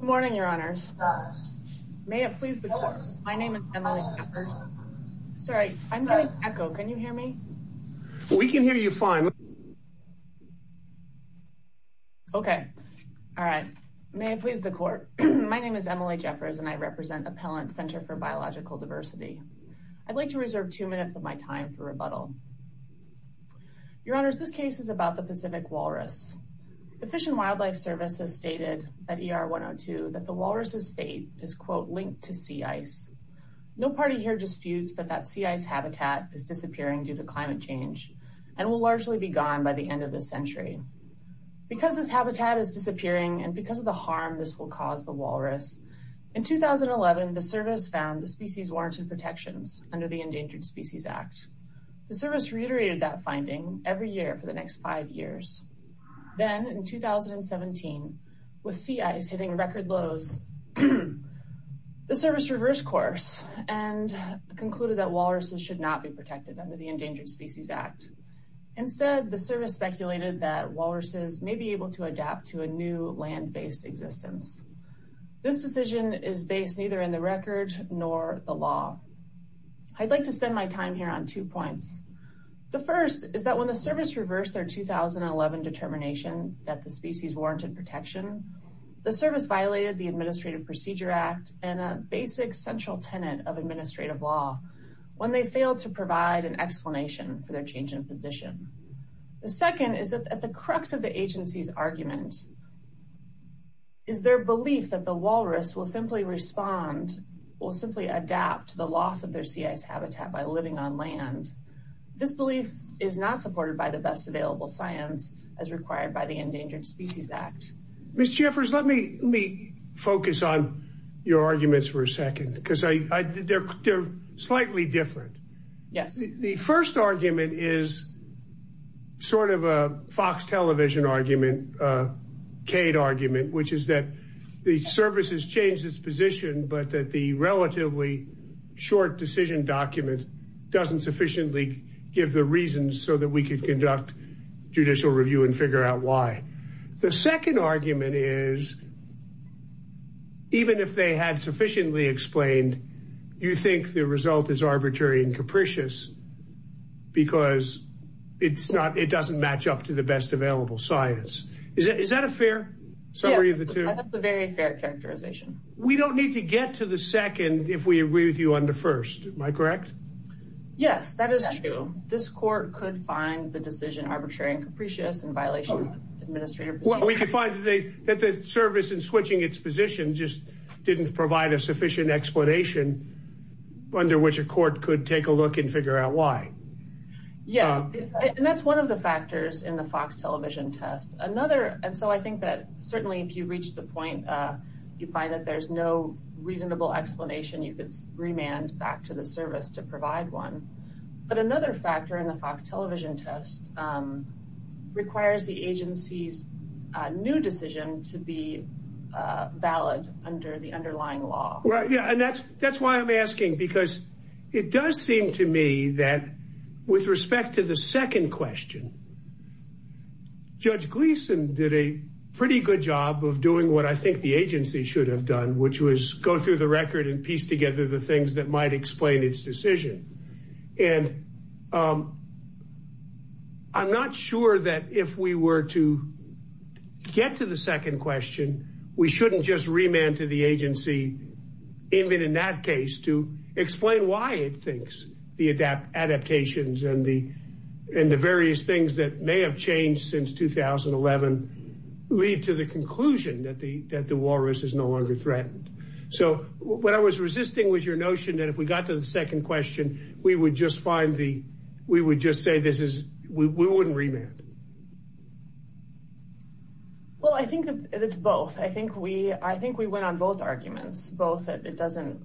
Good morning, Your Honors. May it please the Court, my name is Emily Jeffers and I represent Appellant Center for Biological Diversity. I'd like to reserve two minutes of my time for rebuttal. Your Honors, this case is about the Pacific walrus. The Fish and Wildlife Service has stated at ER 102 that the walrus's fate is, quote, linked to sea ice. No party here disputes that that sea ice habitat is disappearing due to climate change and will largely be gone by the end of this century. Because this habitat is disappearing and because of the harm this will cause the walrus, in 2011 the Service found the species warrants and protections under the Endangered Species Act. The Service reiterated that finding every year for the next five years. Then, in 2017, with sea ice hitting record lows, the Service reversed course and concluded that walruses should not be protected under the Endangered Species Act. Instead, the Service speculated that walruses may be able to adapt to a new land-based existence. This decision is based neither in the record nor the law. I'd like to spend my time here on two points. The first is that when the Service reversed their 2011 determination that the species warranted protection, the Service violated the Administrative Procedure Act and a basic central tenet of administrative law when they failed to provide an explanation for their change in position. The second is that at the crux of the agency's argument is their belief that the walrus will simply respond, will simply adapt to the loss of their sea ice habitat by living on land. This belief is not supported by the best available science as required by the Endangered Species Act. Ms. Jeffers, let me focus on your arguments for a second because they're slightly different. The first argument is sort of a Fox television argument, a Cade argument, which is that the Service has changed its position but that the relatively short decision document doesn't sufficiently give the reasons so that we could conduct judicial review and figure out why. The second argument is even if they had sufficiently explained, you think the result is arbitrary and capricious because it doesn't match up to the best available science. Is that a fair summary of the two? Yes, that's a very fair characterization. We don't need to get to the second if we agree with you on the first, am I correct? Yes, that is true. This court could find the decision arbitrary and capricious in violation of the Administrative Procedure Act. We could find that the Service in switching its position just didn't provide a sufficient explanation under which a court could take a look and figure out why. Yes, and that's one of the factors in the Fox television test. Another, and so I think that certainly if you reach the point you find that there's no reasonable explanation, you could remand back to the Service to provide one, but another factor in the Fox television test requires the agency's new decision to be valid under the underlying law. And that's why I'm asking because it does seem to me that with respect to the second question, Judge Gleeson did a pretty good job of doing what I think the agency should have done, which was go through the record and piece together the things that might explain its decision. And I'm not sure that if we were to get to the second question, we shouldn't just remand to the agency, even in that case, to explain why it thinks the adaptations and the various things that may have changed since 2011 lead to the conclusion that the Walrus is no longer threatened. So what I was resisting was your notion that if we got to the second question, we would just find the, we would just say this is, we wouldn't remand. Well, I think that it's both. I think we, I think we went on both arguments, both. It doesn't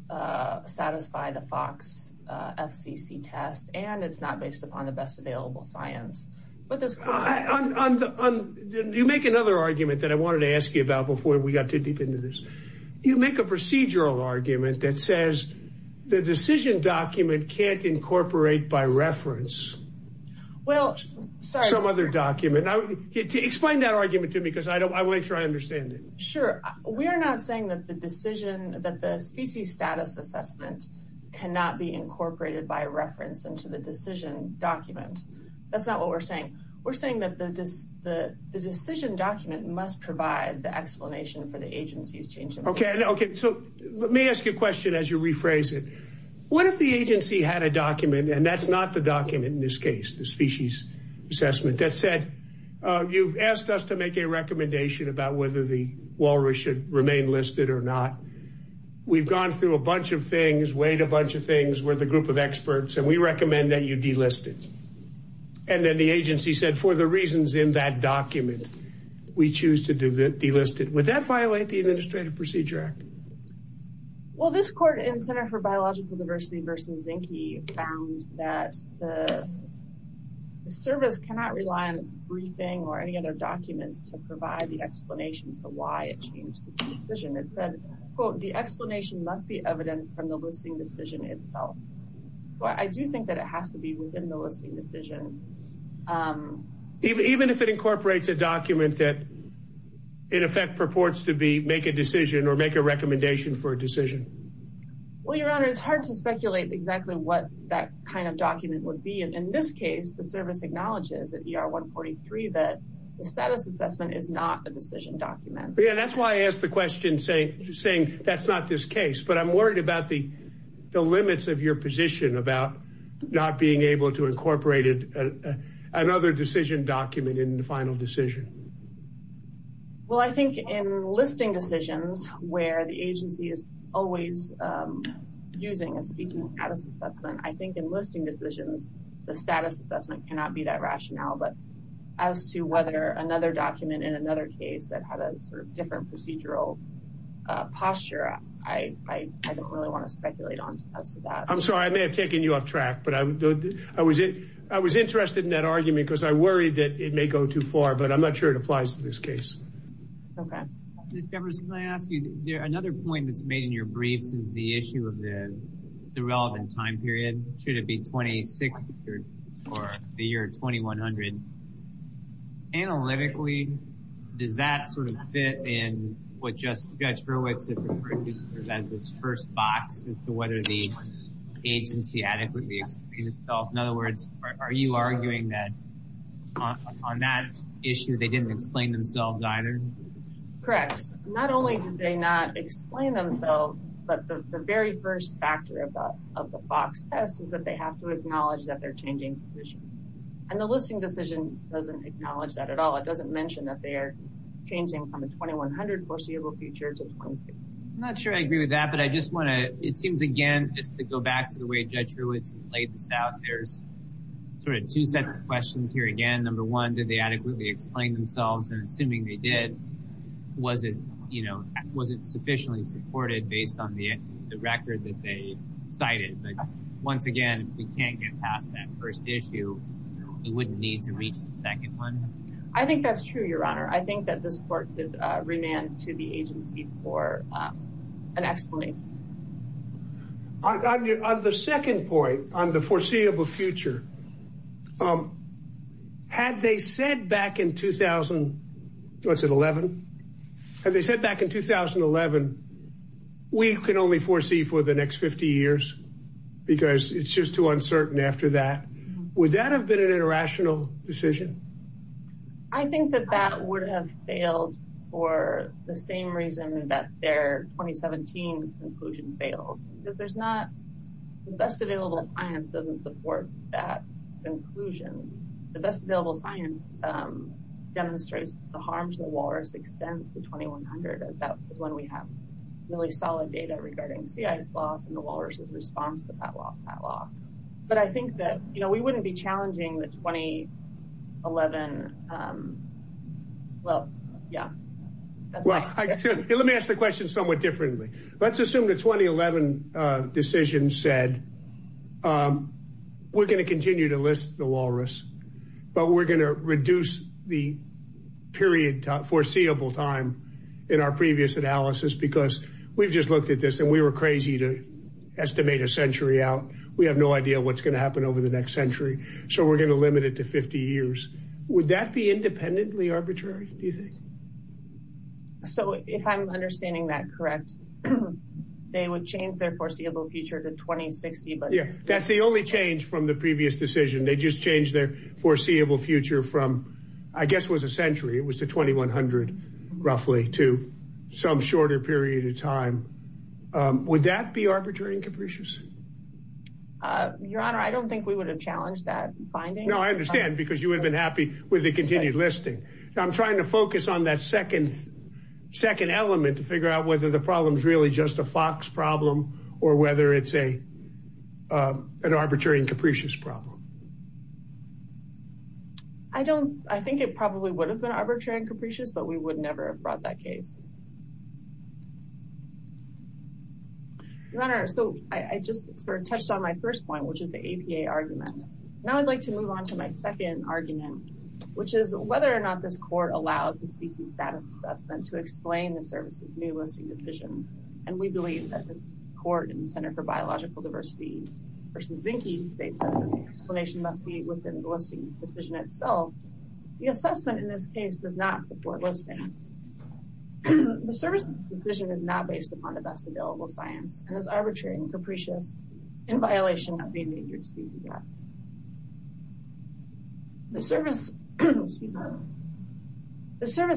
satisfy the Fox FCC test, and it's not based upon the best available science, but there's... You make another argument that I wanted to ask you about before we got too deep into this. You make a procedural argument that says the decision document can't incorporate by reference some other document. Explain that argument to me, because I want to make sure I understand it. Sure. We are not saying that the decision, that the species status assessment cannot be incorporated by reference into the decision document. That's not what we're saying. We're saying that the decision document must provide the explanation for the agency's change. Okay. So let me ask you a question as you rephrase it. What if the agency had a document, and that's not the document in this case, the species assessment, that said, you've asked us to make a recommendation about whether the walrus should remain listed or not. We've gone through a bunch of things, weighed a bunch of things. We're the group of experts, and we recommend that you delist it. And then the agency said, for the reasons in that document, we choose to delist it. Would that violate the Administrative Procedure Act? Well, this court in Center for Biological Diversity v. Zinke found that the service cannot rely on its briefing or any other documents to provide the explanation for why it changed its decision. It said, quote, the explanation must be evidenced from the listing decision itself. Well, I do think that it has to be within the listing decision. Even if it incorporates a document that in effect purports to be make a decision or make recommendation for a decision. Well, Your Honor, it's hard to speculate exactly what that kind of document would be. And in this case, the service acknowledges that ER 143, that the status assessment is not a decision document. Yeah, that's why I asked the question saying that's not this case. But I'm worried about the limits of your position about not being able to incorporate another decision document in the final decision. Well, I think in listing decisions where the agency is always using a species status assessment, I think in listing decisions, the status assessment cannot be that rationale. But as to whether another document in another case that had a sort of different procedural posture, I don't really want to speculate on that. I'm sorry, I may have taken you off track, but I was interested in that argument because I worried that it may go too far, but I'm not sure it applies to this case. Okay. Ms. Jefferson, can I ask you, another point that's made in your briefs is the issue of the relevant time period. Should it be 26 or the year 2100? Analytically, does that sort of fit in what Judge Hurwitz referred to as its first box as to whether the agency adequately explained itself? In other words, are you arguing that on that issue, they didn't explain themselves either? Correct. Not only did they not explain themselves, but the very first factor of the box test is that they have to acknowledge that they're changing positions. And the listing decision doesn't acknowledge that at all. It doesn't mention that they are changing from the 2100 foreseeable future to 26. I'm not sure I agree with that, but I just want to, it seems again, just to go back to the way Judge Hurwitz laid this out, there's sort of two sets of questions here. Again, number one, did they adequately explain themselves? And assuming they did, was it, you know, was it sufficiently supported based on the record that they cited? But once again, if we can't get past that first issue, we wouldn't need to reach the second one. I think that's true, Your Honor. I think that the support did remand to the agency for an explanation. On the second point, on the foreseeable future, had they said back in 2000, what's it, 11? Had they said back in 2011, we can only foresee for the next 50 years, because it's just too uncertain after that. Would that have been an irrational decision? I think that that would have failed for the same reason that their 2017 conclusion failed, because there's not, the best available science doesn't support that conclusion. The best available science demonstrates the harm to the walrus extends to 2100 as that is when we have really solid data regarding sea ice loss and the walrus's response to that loss. But I think that, you know, we 11, well, yeah. Let me ask the question somewhat differently. Let's assume the 2011 decision said, we're going to continue to list the walrus, but we're going to reduce the period, foreseeable time in our previous analysis, because we've just looked at this and we were crazy to estimate a century out. We have no idea what's going to happen over the next century. So we're going to limit it to 50 years. Would that be independently arbitrary, do you think? So if I'm understanding that correct, they would change their foreseeable future to 2060. But yeah, that's the only change from the previous decision. They just changed their foreseeable future from, I guess, was a century. It was to 2100, roughly, to some shorter period of time. Would that be arbitrary and capricious? Your Honor, I don't think we would have challenged that finding. No, I understand, because you would have been happy with the continued listing. I'm trying to focus on that second element to figure out whether the problem is really just a Fox problem or whether it's an arbitrary and capricious problem. I don't, I think it probably would have been arbitrary and capricious, but we would never have brought that case. Your Honor, so I just sort of touched on my first point, which is the APA argument. Now I'd like to move on to my second argument, which is whether or not this court allows the species status assessment to explain the service's new listing decision. And we believe that the court in the Center for Biological Diversity v. Zinke states that the explanation must be within the listing decision itself. The assessment in this case does not support listing. The service decision is not based upon the best available science and is arbitrary and capricious in violation of the Endangered Species Act. The service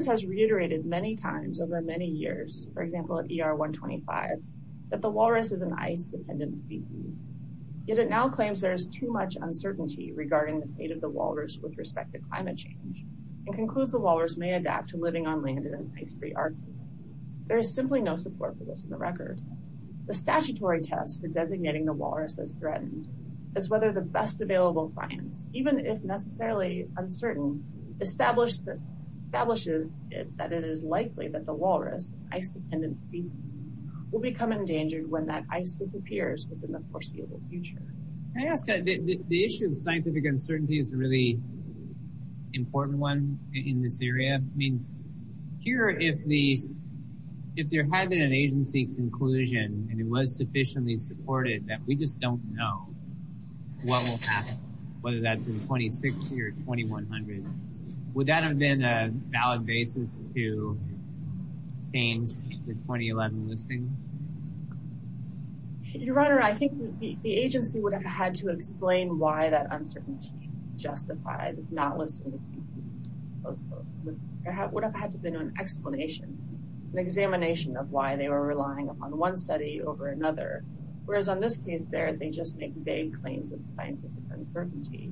has reiterated many times over many years, for example at ER 125, that the walrus is an ice-dependent species, yet it now claims there is too much uncertainty regarding the fate of the walrus with respect to climate change and concludes the walrus may adapt to living on land in an ice-free Arctic. There is simply no support for this in the record. The statutory test for designating the walrus as threatened is whether the best available science, even if necessarily uncertain, establishes that it is likely that the walrus, ice-dependent species, will become endangered when that ice disappears within the foreseeable future. Can I ask, the issue of scientific uncertainty is a really important one in this area. I mean, here, if there had been an agency conclusion and it was sufficiently supported that we just don't know what will happen, whether that's in 2016 or 2100, would that have been a valid basis to change the 2011 listing? Your Honor, I think the agency would have had to explain why that explanation, an examination of why they were relying upon one study over another, whereas on this case there, they just make vague claims of scientific uncertainty,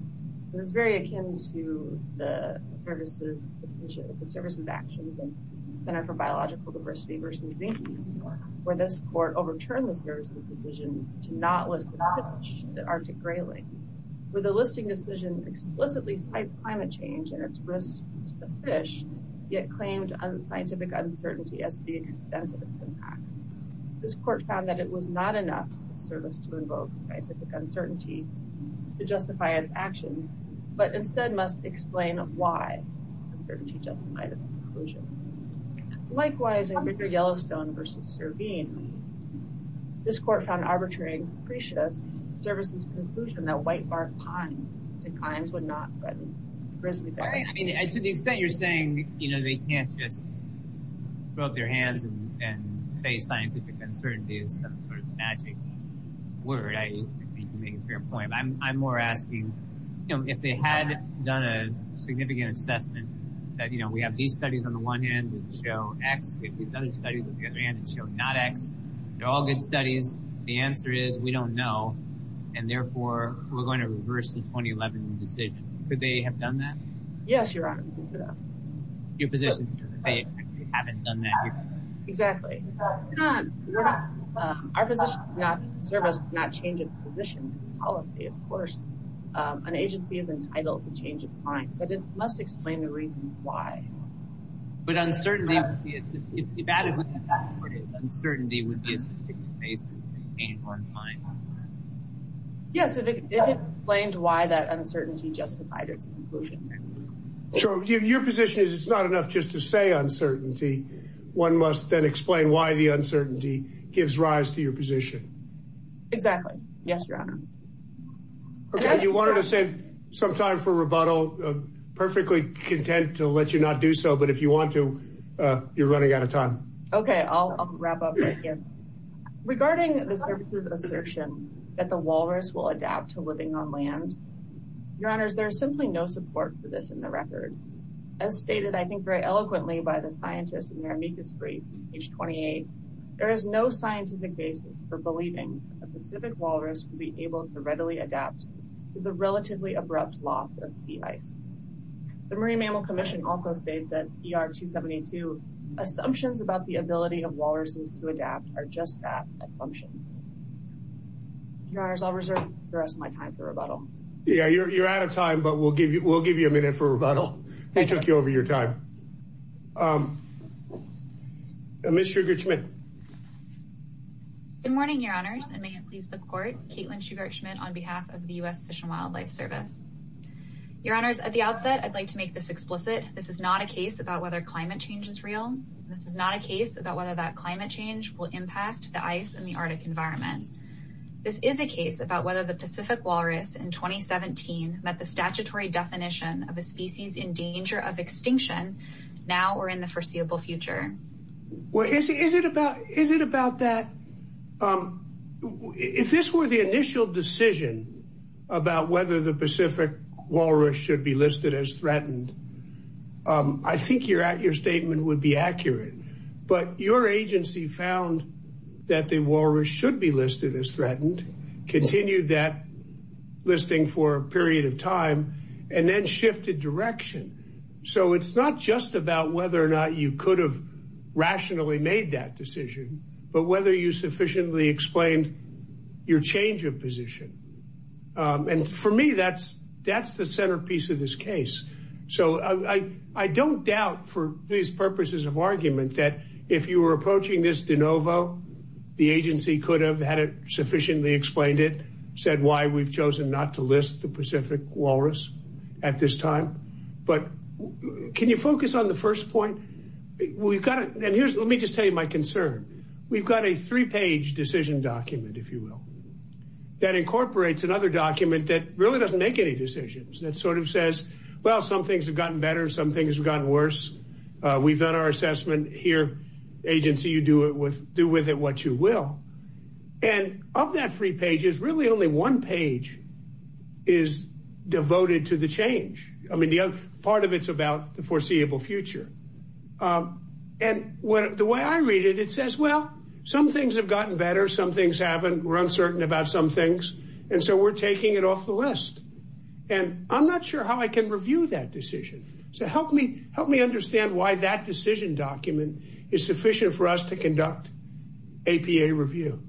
and it's very akin to the services actions in the Center for Biological Diversity versus Zinke, where this court overturned the services decision to not list the fish, the Arctic grayling, where the listing decision explicitly cites climate change and its risks to the fish, yet claimed scientific uncertainty as the extent of its impact. This court found that it was not enough of a service to invoke scientific uncertainty to justify its action, but instead must explain why the uncertainty justified its conclusion. Likewise, in Ritter-Yellowstone versus Servine, this court found arbitrary and capricious services conclusion that whitebark pine would not threaten grizzly bears. To the extent you're saying they can't just throw up their hands and say scientific uncertainty is some sort of magic word, I think you make a fair point, but I'm more asking if they had done a significant assessment that we have these studies on the one hand that show X, we have these other studies on the other hand that show not X, they're all good studies, the answer is we don't know, and therefore we're going to reverse the 2011 decision. Could they have done that? Yes, Your Honor. Your position is that they haven't done that? Exactly. Our position is that the service could not change its position in policy, of course. An agency is entitled to change its mind, but it must explain the reason why. But uncertainty, if added to that, uncertainty would be a significant basis in whitebark's mind. Yes, if it explained why that uncertainty justified its conclusion. Sure, your position is it's not enough just to say uncertainty, one must then explain why the uncertainty gives rise to your position. Exactly, yes, Your Honor. Okay, you wanted to save some time for rebuttal, perfectly content to let you not do so, but if you want to, you're running out of time. Okay, I'll wrap up right here. Regarding the service's assertion that the walrus will adapt to living on land, Your Honors, there is simply no support for this in the record. As stated, I think, very eloquently by the scientists in their amicus brief, page 28, there is no scientific basis for believing that the Pacific walrus would be able to readily adapt to the relatively abrupt loss of sea life. The Marine Mammal Commission also states that ER 272 assumptions about the ability of walruses to adapt are just that assumption. Your Honors, I'll reserve the rest of my time for rebuttal. Yeah, you're out of time, but we'll give you a minute for rebuttal. They took you over your time. Ms. Sugar Schmidt. Good morning, Your Honors, and may it please the Your Honors, at the outset, I'd like to make this explicit. This is not a case about whether climate change is real. This is not a case about whether that climate change will impact the ice in the Arctic environment. This is a case about whether the Pacific walrus in 2017 met the statutory definition of a species in danger of extinction now or in the foreseeable future. Well, is it about that? If this were the initial decision about whether the Pacific walrus should be listed as threatened, I think your statement would be accurate, but your agency found that the walrus should be listed as threatened, continued that listing for a period of time, and then shifted direction. So it's not just about whether or not you could have rationally made that decision, but whether you sufficiently explained your change of position. And for me, that's the centerpiece of this case. So I don't doubt for these purposes of argument that if you were approaching this de novo, the agency could have had it sufficiently explained it, said why we've chosen not to list the Pacific walrus at this time. But can you focus on the first point? We've got to, and here's, let me just tell you my concern. We've got a three-page decision document, if you will, that incorporates another document that really doesn't make any decisions, that sort of says, well, some things have gotten better, some things have gotten worse. We've done our assessment here. Agency, you do with it what you will. And of that three pages, really only one page is devoted to the change. I mean, the other part of it's about the foreseeable future. And the way I read it, it says, well, some things have gotten better, some things haven't, we're uncertain about some things, and so we're taking it off the list. And I'm not sure how I can review that decision. So help me understand why that decision document is sufficient for us to conduct APA review.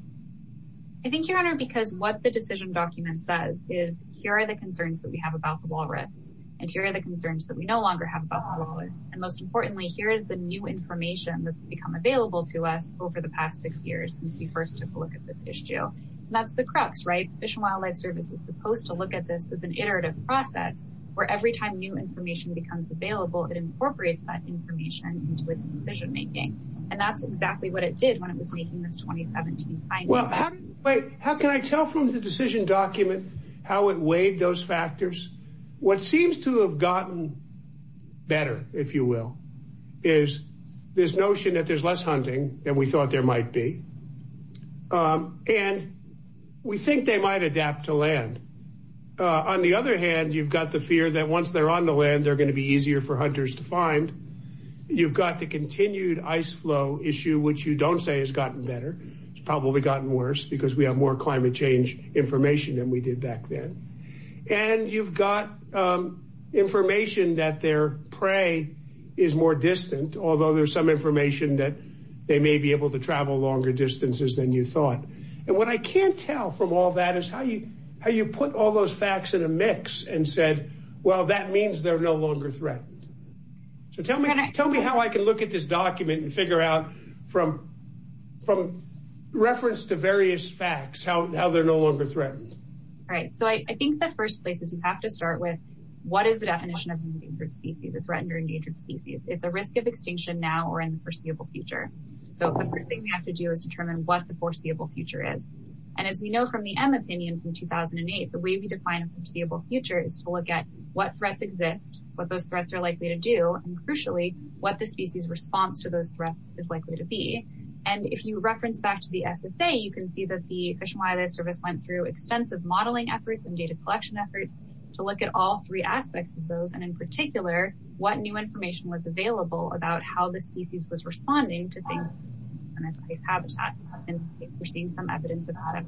I think, Your Honor, because what the decision document says is here are the concerns that we have about the walrus, and here are the concerns that we no longer have about the walrus. And most importantly, here is the new information that's become available to us over the past six years since we first took a look at this issue. And that's the crux, right? Fish and Wildlife Service is supposed to look at this as an iterative process, where every time new information becomes available, it incorporates that information into its decision-making. And that's exactly what it did when it was making this 2017 finding. How can I tell from the decision document how it weighed those factors? What seems to have gotten better, if you will, is this notion that there's less hunting than we thought there might be. And we think they might adapt to land. On the other hand, you've got the fear that once they're on the land, they're going to be easier for hunters to find. You've got the continued ice flow issue, which you don't say has gotten better. It's probably gotten worse because we have more climate change information than we did back then. And you've got information that their prey is more distant, although there's some information that they may be able to travel longer distances than you thought. And what I can't tell from all that is how you put all those facts in a mix and said, well, that means they're no longer threatened. So tell me how I can look at this document and from reference to various facts, how they're no longer threatened. Right. So I think the first place is you have to start with what is the definition of endangered species, the threatened or endangered species. It's a risk of extinction now or in the foreseeable future. So the first thing we have to do is determine what the foreseeable future is. And as we know from the M opinion from 2008, the way we define a foreseeable future is to look at what threats exist, what those threats are likely to do, and crucially, what the species response to those threats is likely to be. And if you reference back to the SSA, you can see that the Fish and Wildlife Service went through extensive modeling efforts and data collection efforts to look at all three aspects of those. And in particular, what new information was available about how the species was responding to things in its habitat. And we're seeing some evidence about it.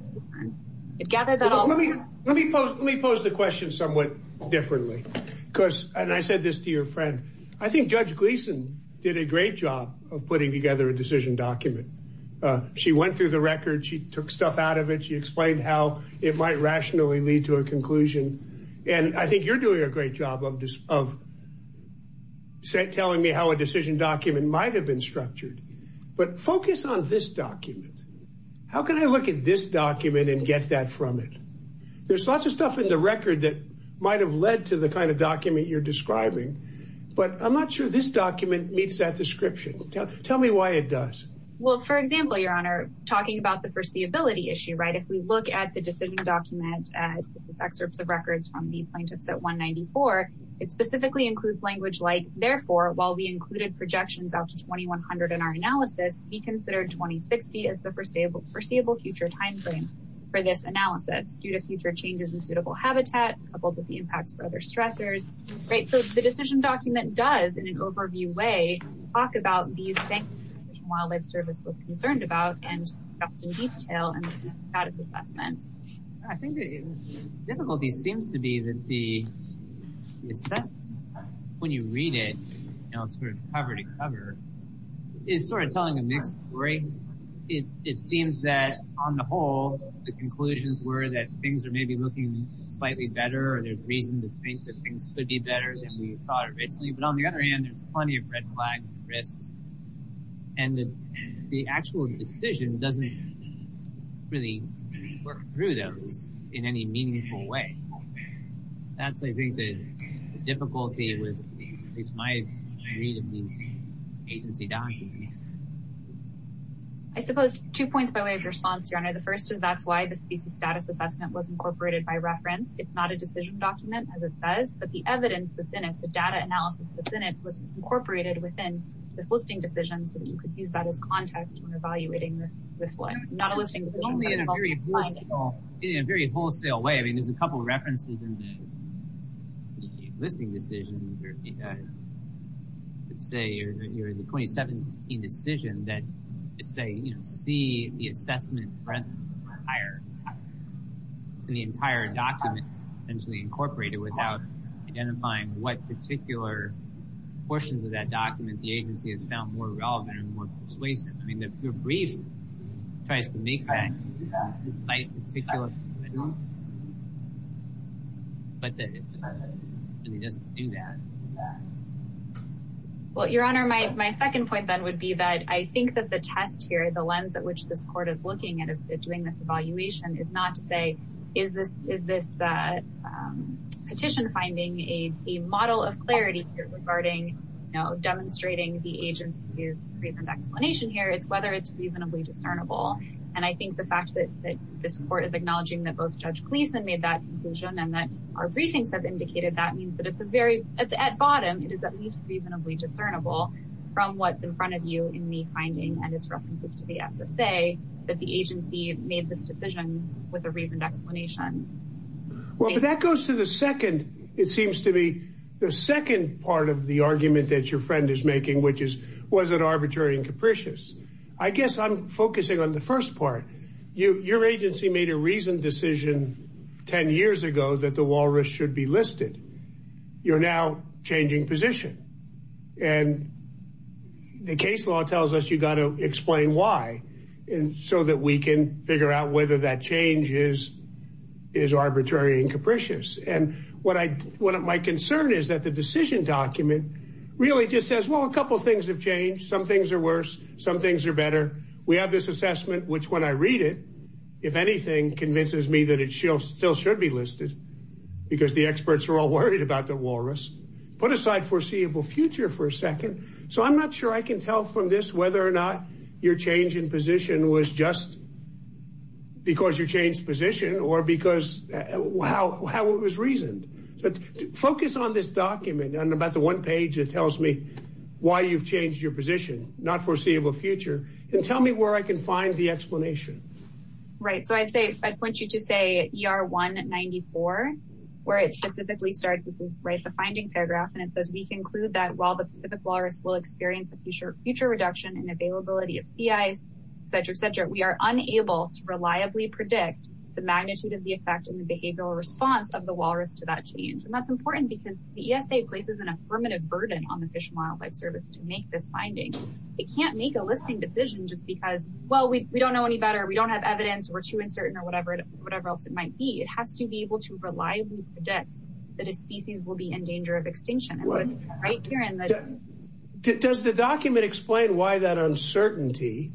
Let me pose the question somewhat differently, because and I said this to your friend. I think Judge Gleason did a great job of putting together a decision document. She went through the record. She took stuff out of it. She explained how it might rationally lead to a conclusion. And I think you're doing a great job of telling me how a decision document might have been structured. But focus on this document. How can I look at this document and get that from it? There's lots of stuff in the record that might have led to the kind of document you're describing, but I'm not sure this document meets that description. Tell me why it does. Well, for example, Your Honor, talking about the foreseeability issue, right? If we look at the decision document, this is excerpts of records from the plaintiffs at 194, it specifically includes language like, therefore, while we included projections up to 2100 in our analysis, we considered 2060 as the foreseeable future timeframe for this analysis due to future changes in suitable habitat, coupled with the impacts for other stressors, right? So the decision document does, in an overview way, talk about these things wildlife service was concerned about and in detail and status assessment. I think the difficulty seems to be that the assessment, when you read it, you know, sort of cover to cover is sort of telling a mixed story. It seems that on the whole, the conclusions were that things are maybe looking slightly better, or there's reason to think that things could be better than we thought originally. But on the other hand, there's plenty of red flags and risks. And the actual decision doesn't really work through those in any meaningful way. That's, I think, the difficulty with at least my read of these agency documents. I suppose two points by way of response, Your Honor. The first is that's why the species status assessment was incorporated by reference. It's not a decision document, as it says, but the evidence within it, the data analysis within it, was incorporated within this listing decision, so that you could use that as context when evaluating this one. Not a listing decision, but a multiple finding. Only in a very personal, in a very wholesale way. I mean, there's a couple of references in the listing decision. Let's say you're in the 2017 decision that say, you know, see the assessment breadth higher than the entire document essentially incorporated without identifying what particular portions of that document the agency has found more relevant and more persuasive. I mean, the brief tries to make that. But it doesn't do that. Well, Your Honor, my second point then would be that I think that the test here, the lens at which this court is looking at doing this evaluation, is not to say, is this petition finding a model of clarity regarding, you know, demonstrating the reasonable discernible. And I think the fact that this court is acknowledging that both Judge Gleason made that conclusion and that our briefings have indicated that means that it's a very, at bottom, it is at least reasonably discernible from what's in front of you in the finding and its references to the SSA that the agency made this decision with a reasoned explanation. Well, but that goes to the second, it seems to me, the second part of the argument that your friend is making, which is, was it arbitrary and capricious? I guess I'm focusing on the first part. Your agency made a reasoned decision 10 years ago that the Walrus should be listed. You're now changing position. And the case law tells us you got to explain why. And so that we can figure out whether that change is arbitrary and capricious. And my concern is that the couple of things have changed. Some things are worse. Some things are better. We have this assessment, which when I read it, if anything, convinces me that it still should be listed because the experts are all worried about the Walrus. Put aside foreseeable future for a second. So I'm not sure I can tell from this whether or not your change in position was just because you changed position or because how it was reasoned. But focus on this document and about one page that tells me why you've changed your position, not foreseeable future. And tell me where I can find the explanation. Right. So I'd say I'd point you to say ER 194, where it specifically starts. This is right, the finding paragraph. And it says, we conclude that while the Pacific Walrus will experience a future future reduction in availability of sea ice, et cetera, et cetera, we are unable to reliably predict the magnitude of the effect and the behavioral response of the Walrus to that change. And that's important because the ESA places in a burden on the Fish and Wildlife Service to make this finding. They can't make a listing decision just because, well, we don't know any better. We don't have evidence. We're too uncertain or whatever, whatever else it might be. It has to be able to reliably predict that a species will be in danger of extinction. Right here. And does the document explain why that uncertainty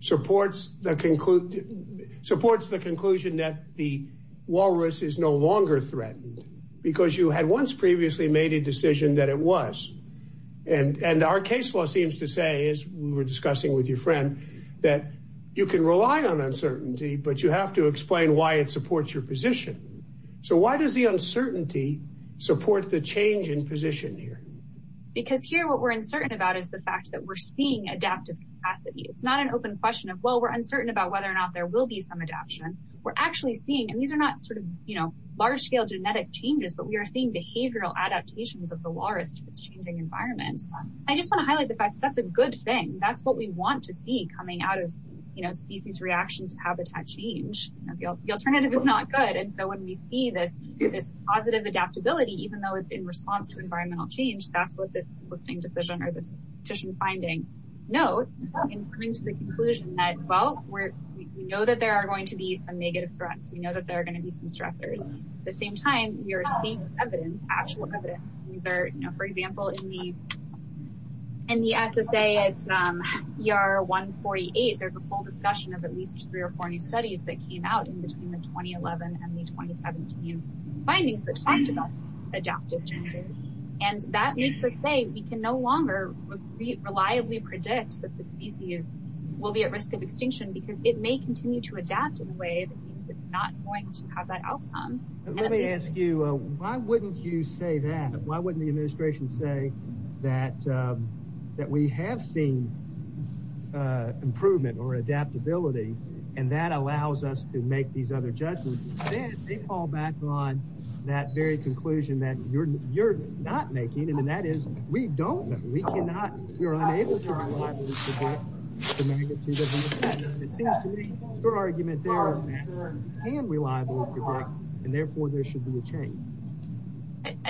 supports the conclude supports the conclusion that the Walrus is no longer threatened because you had once previously made a decision that it was. And our case law seems to say, as we were discussing with your friend, that you can rely on uncertainty, but you have to explain why it supports your position. So why does the uncertainty support the change in position here? Because here what we're uncertain about is the fact that we're seeing adaptive capacity. It's not an open question of, well, we're uncertain about whether or not there will be some adaption. We're actually seeing, and these are not sort of, you know, large scale genetic changes, but we are seeing behavioral adaptations of the Walrus to its changing environment. I just want to highlight the fact that that's a good thing. That's what we want to see coming out of, you know, species reaction to habitat change. The alternative is not good. And so when we see this positive adaptability, even though it's in response to environmental change, that's what this listing decision or this decision finding notes in coming to the conclusion that, well, we know that there are going to be some negative threats. We know that there are going to be some stressors. At the same time, you're seeing evidence, actual evidence. For example, in the SSA, it's ER 148, there's a full discussion of at least three or four new studies that came out in between the 2011 and the 2017 findings that talked about adaptive changes. And that makes us say we can no longer reliably predict that the species will be at risk of extinction because it may continue to adapt in a way that it's not going to have that outcome. Let me ask you, why wouldn't you say that? Why wouldn't the administration say that we have seen improvement or adaptability and that allows us to make these other judgments? They fall back on that very conclusion that you're arguing. Therefore, there should be a change.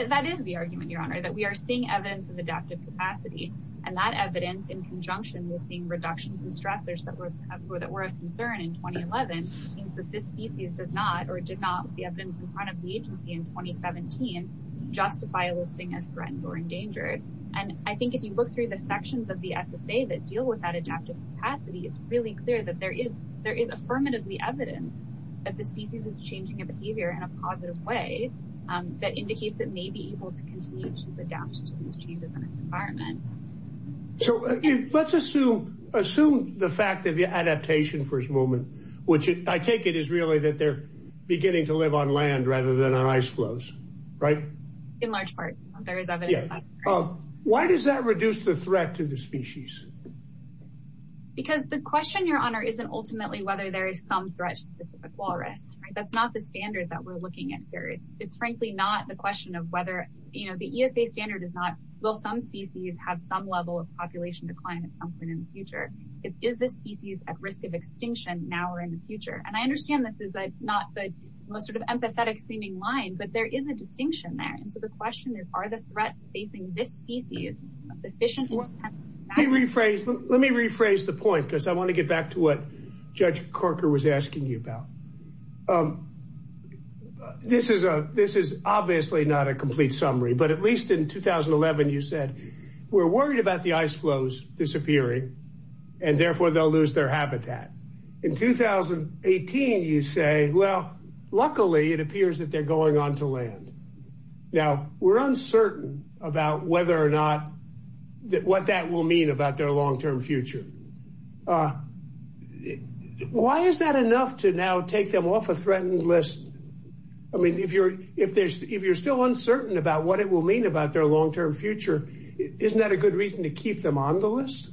That is the argument, Your Honor, that we are seeing evidence of adaptive capacity and that evidence in conjunction with seeing reductions and stressors that were of concern in 2011 means that this species does not or did not, with the evidence in front of the agency in 2017, justify a listing as threatened or endangered. And I think if you look through the sections of the SSA that deal with that adaptive capacity, it's really clear that there is affirmatively evidence that the species is changing its behavior in a positive way that indicates it may be able to continue to adapt to these changes in its environment. So let's assume the fact of the adaptation for a moment, which I take it is really that they're beginning to live on land rather than on ice floes, right? In large part. Why does that reduce the threat to the species? Because the question, Your Honor, isn't ultimately whether there is some threat to the Pacific walrus. That's not the standard that we're looking at here. It's frankly not the question of whether, you know, the ESA standard is not, will some species have some level of population decline at some point in the future? It's, is this species at risk of extinction now or in the future? And I understand this is not the most sort of empathetic seeming line, but there is a distinction there. So the question is, are the threats facing this species sufficient? Let me rephrase the point because I want to get back to what Judge Corker was asking you about. This is a, this is obviously not a complete summary, but at least in 2011, you said, we're worried about the ice floes disappearing and therefore they'll lose their habitat. In 2018, you say, well, luckily it appears that they're going on to land. Now we're uncertain about whether or not that, what that will mean about their long-term future. Why is that enough to now take them off a threatened list? I mean, if you're, if there's, if you're still uncertain about what it will mean about their long-term future, isn't that a good reason to keep them on the list?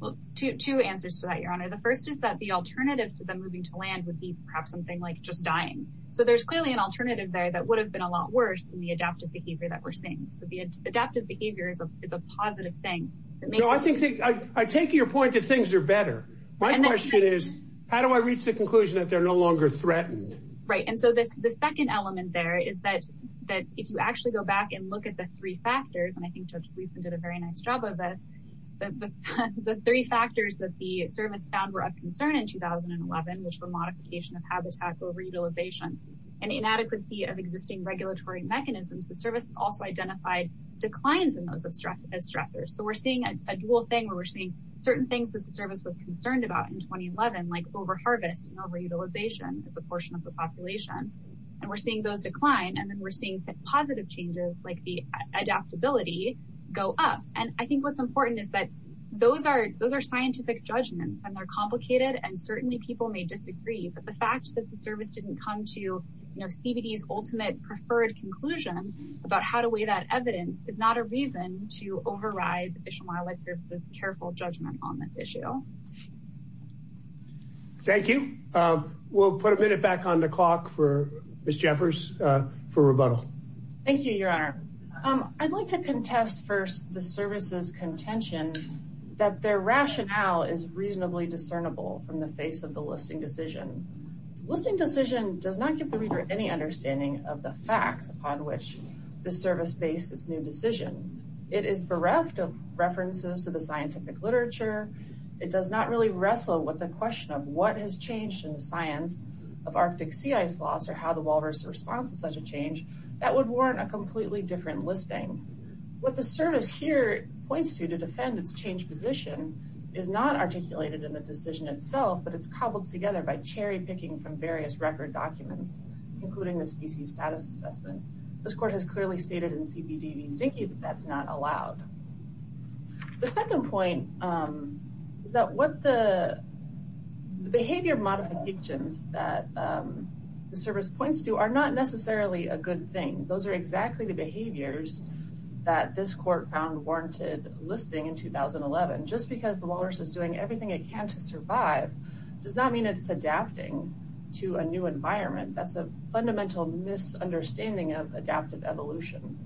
Well, two answers to that, Your Honor. The first is that the alternative to them moving to land would be perhaps something like just dying. So there's clearly an alternative there that would have been a lot worse than the adaptive behavior that we're seeing. So the adaptive behavior is a positive thing. I take your point that things are better. My question is, how do I reach the conclusion that they're no longer threatened? Right. And so this, the second element there is that, that if you actually go back and look at the three factors, and I think Judge Gleason did a very nice job of this, the three factors that the service found were of concern in 2011, which were modification of habitat, over-utilization, and inadequacy of existing regulatory mechanisms, the service also identified declines in those of stress, as stressors. So we're seeing a dual thing where we're seeing certain things that the service was concerned about in 2011, like over-harvest and over-utilization as a portion of the population. And we're seeing those decline. And then we're seeing positive changes like the adaptability go up. And I think what's important is that those are, those are scientific judgments and they're complicated. And certainly people may disagree, but the fact that the service didn't come to, you know, CBD's ultimate preferred conclusion about how to weigh that evidence is not a reason to override the Fish and Wildlife Service's careful judgment on this issue. Thank you. We'll put a minute back on the efforts for rebuttal. Thank you, Your Honor. I'd like to contest first the service's contention that their rationale is reasonably discernible from the face of the listing decision. Listing decision does not give the reader any understanding of the facts upon which the service based its new decision. It is bereft of references to the scientific literature. It does not really wrestle with the question of what has changed in the science of Arctic response to such a change that would warrant a completely different listing. What the service here points to to defend its changed position is not articulated in the decision itself, but it's cobbled together by cherry picking from various record documents, including the species status assessment. This court has clearly stated in CBD v Zinke that that's not allowed. The second point that what the behavior modifications that the service points to are not necessarily a good thing. Those are exactly the behaviors that this court found warranted listing in 2011. Just because the Walrus is doing everything it can to survive does not mean it's adapting to a new environment. That's a fundamental misunderstanding of adaptive evolution.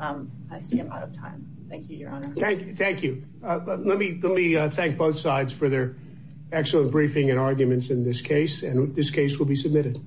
I see I'm out of time. Thank you, Your Honor. Thank you. Let me thank both sides for their excellent briefing and arguments in this case, and this case will be submitted.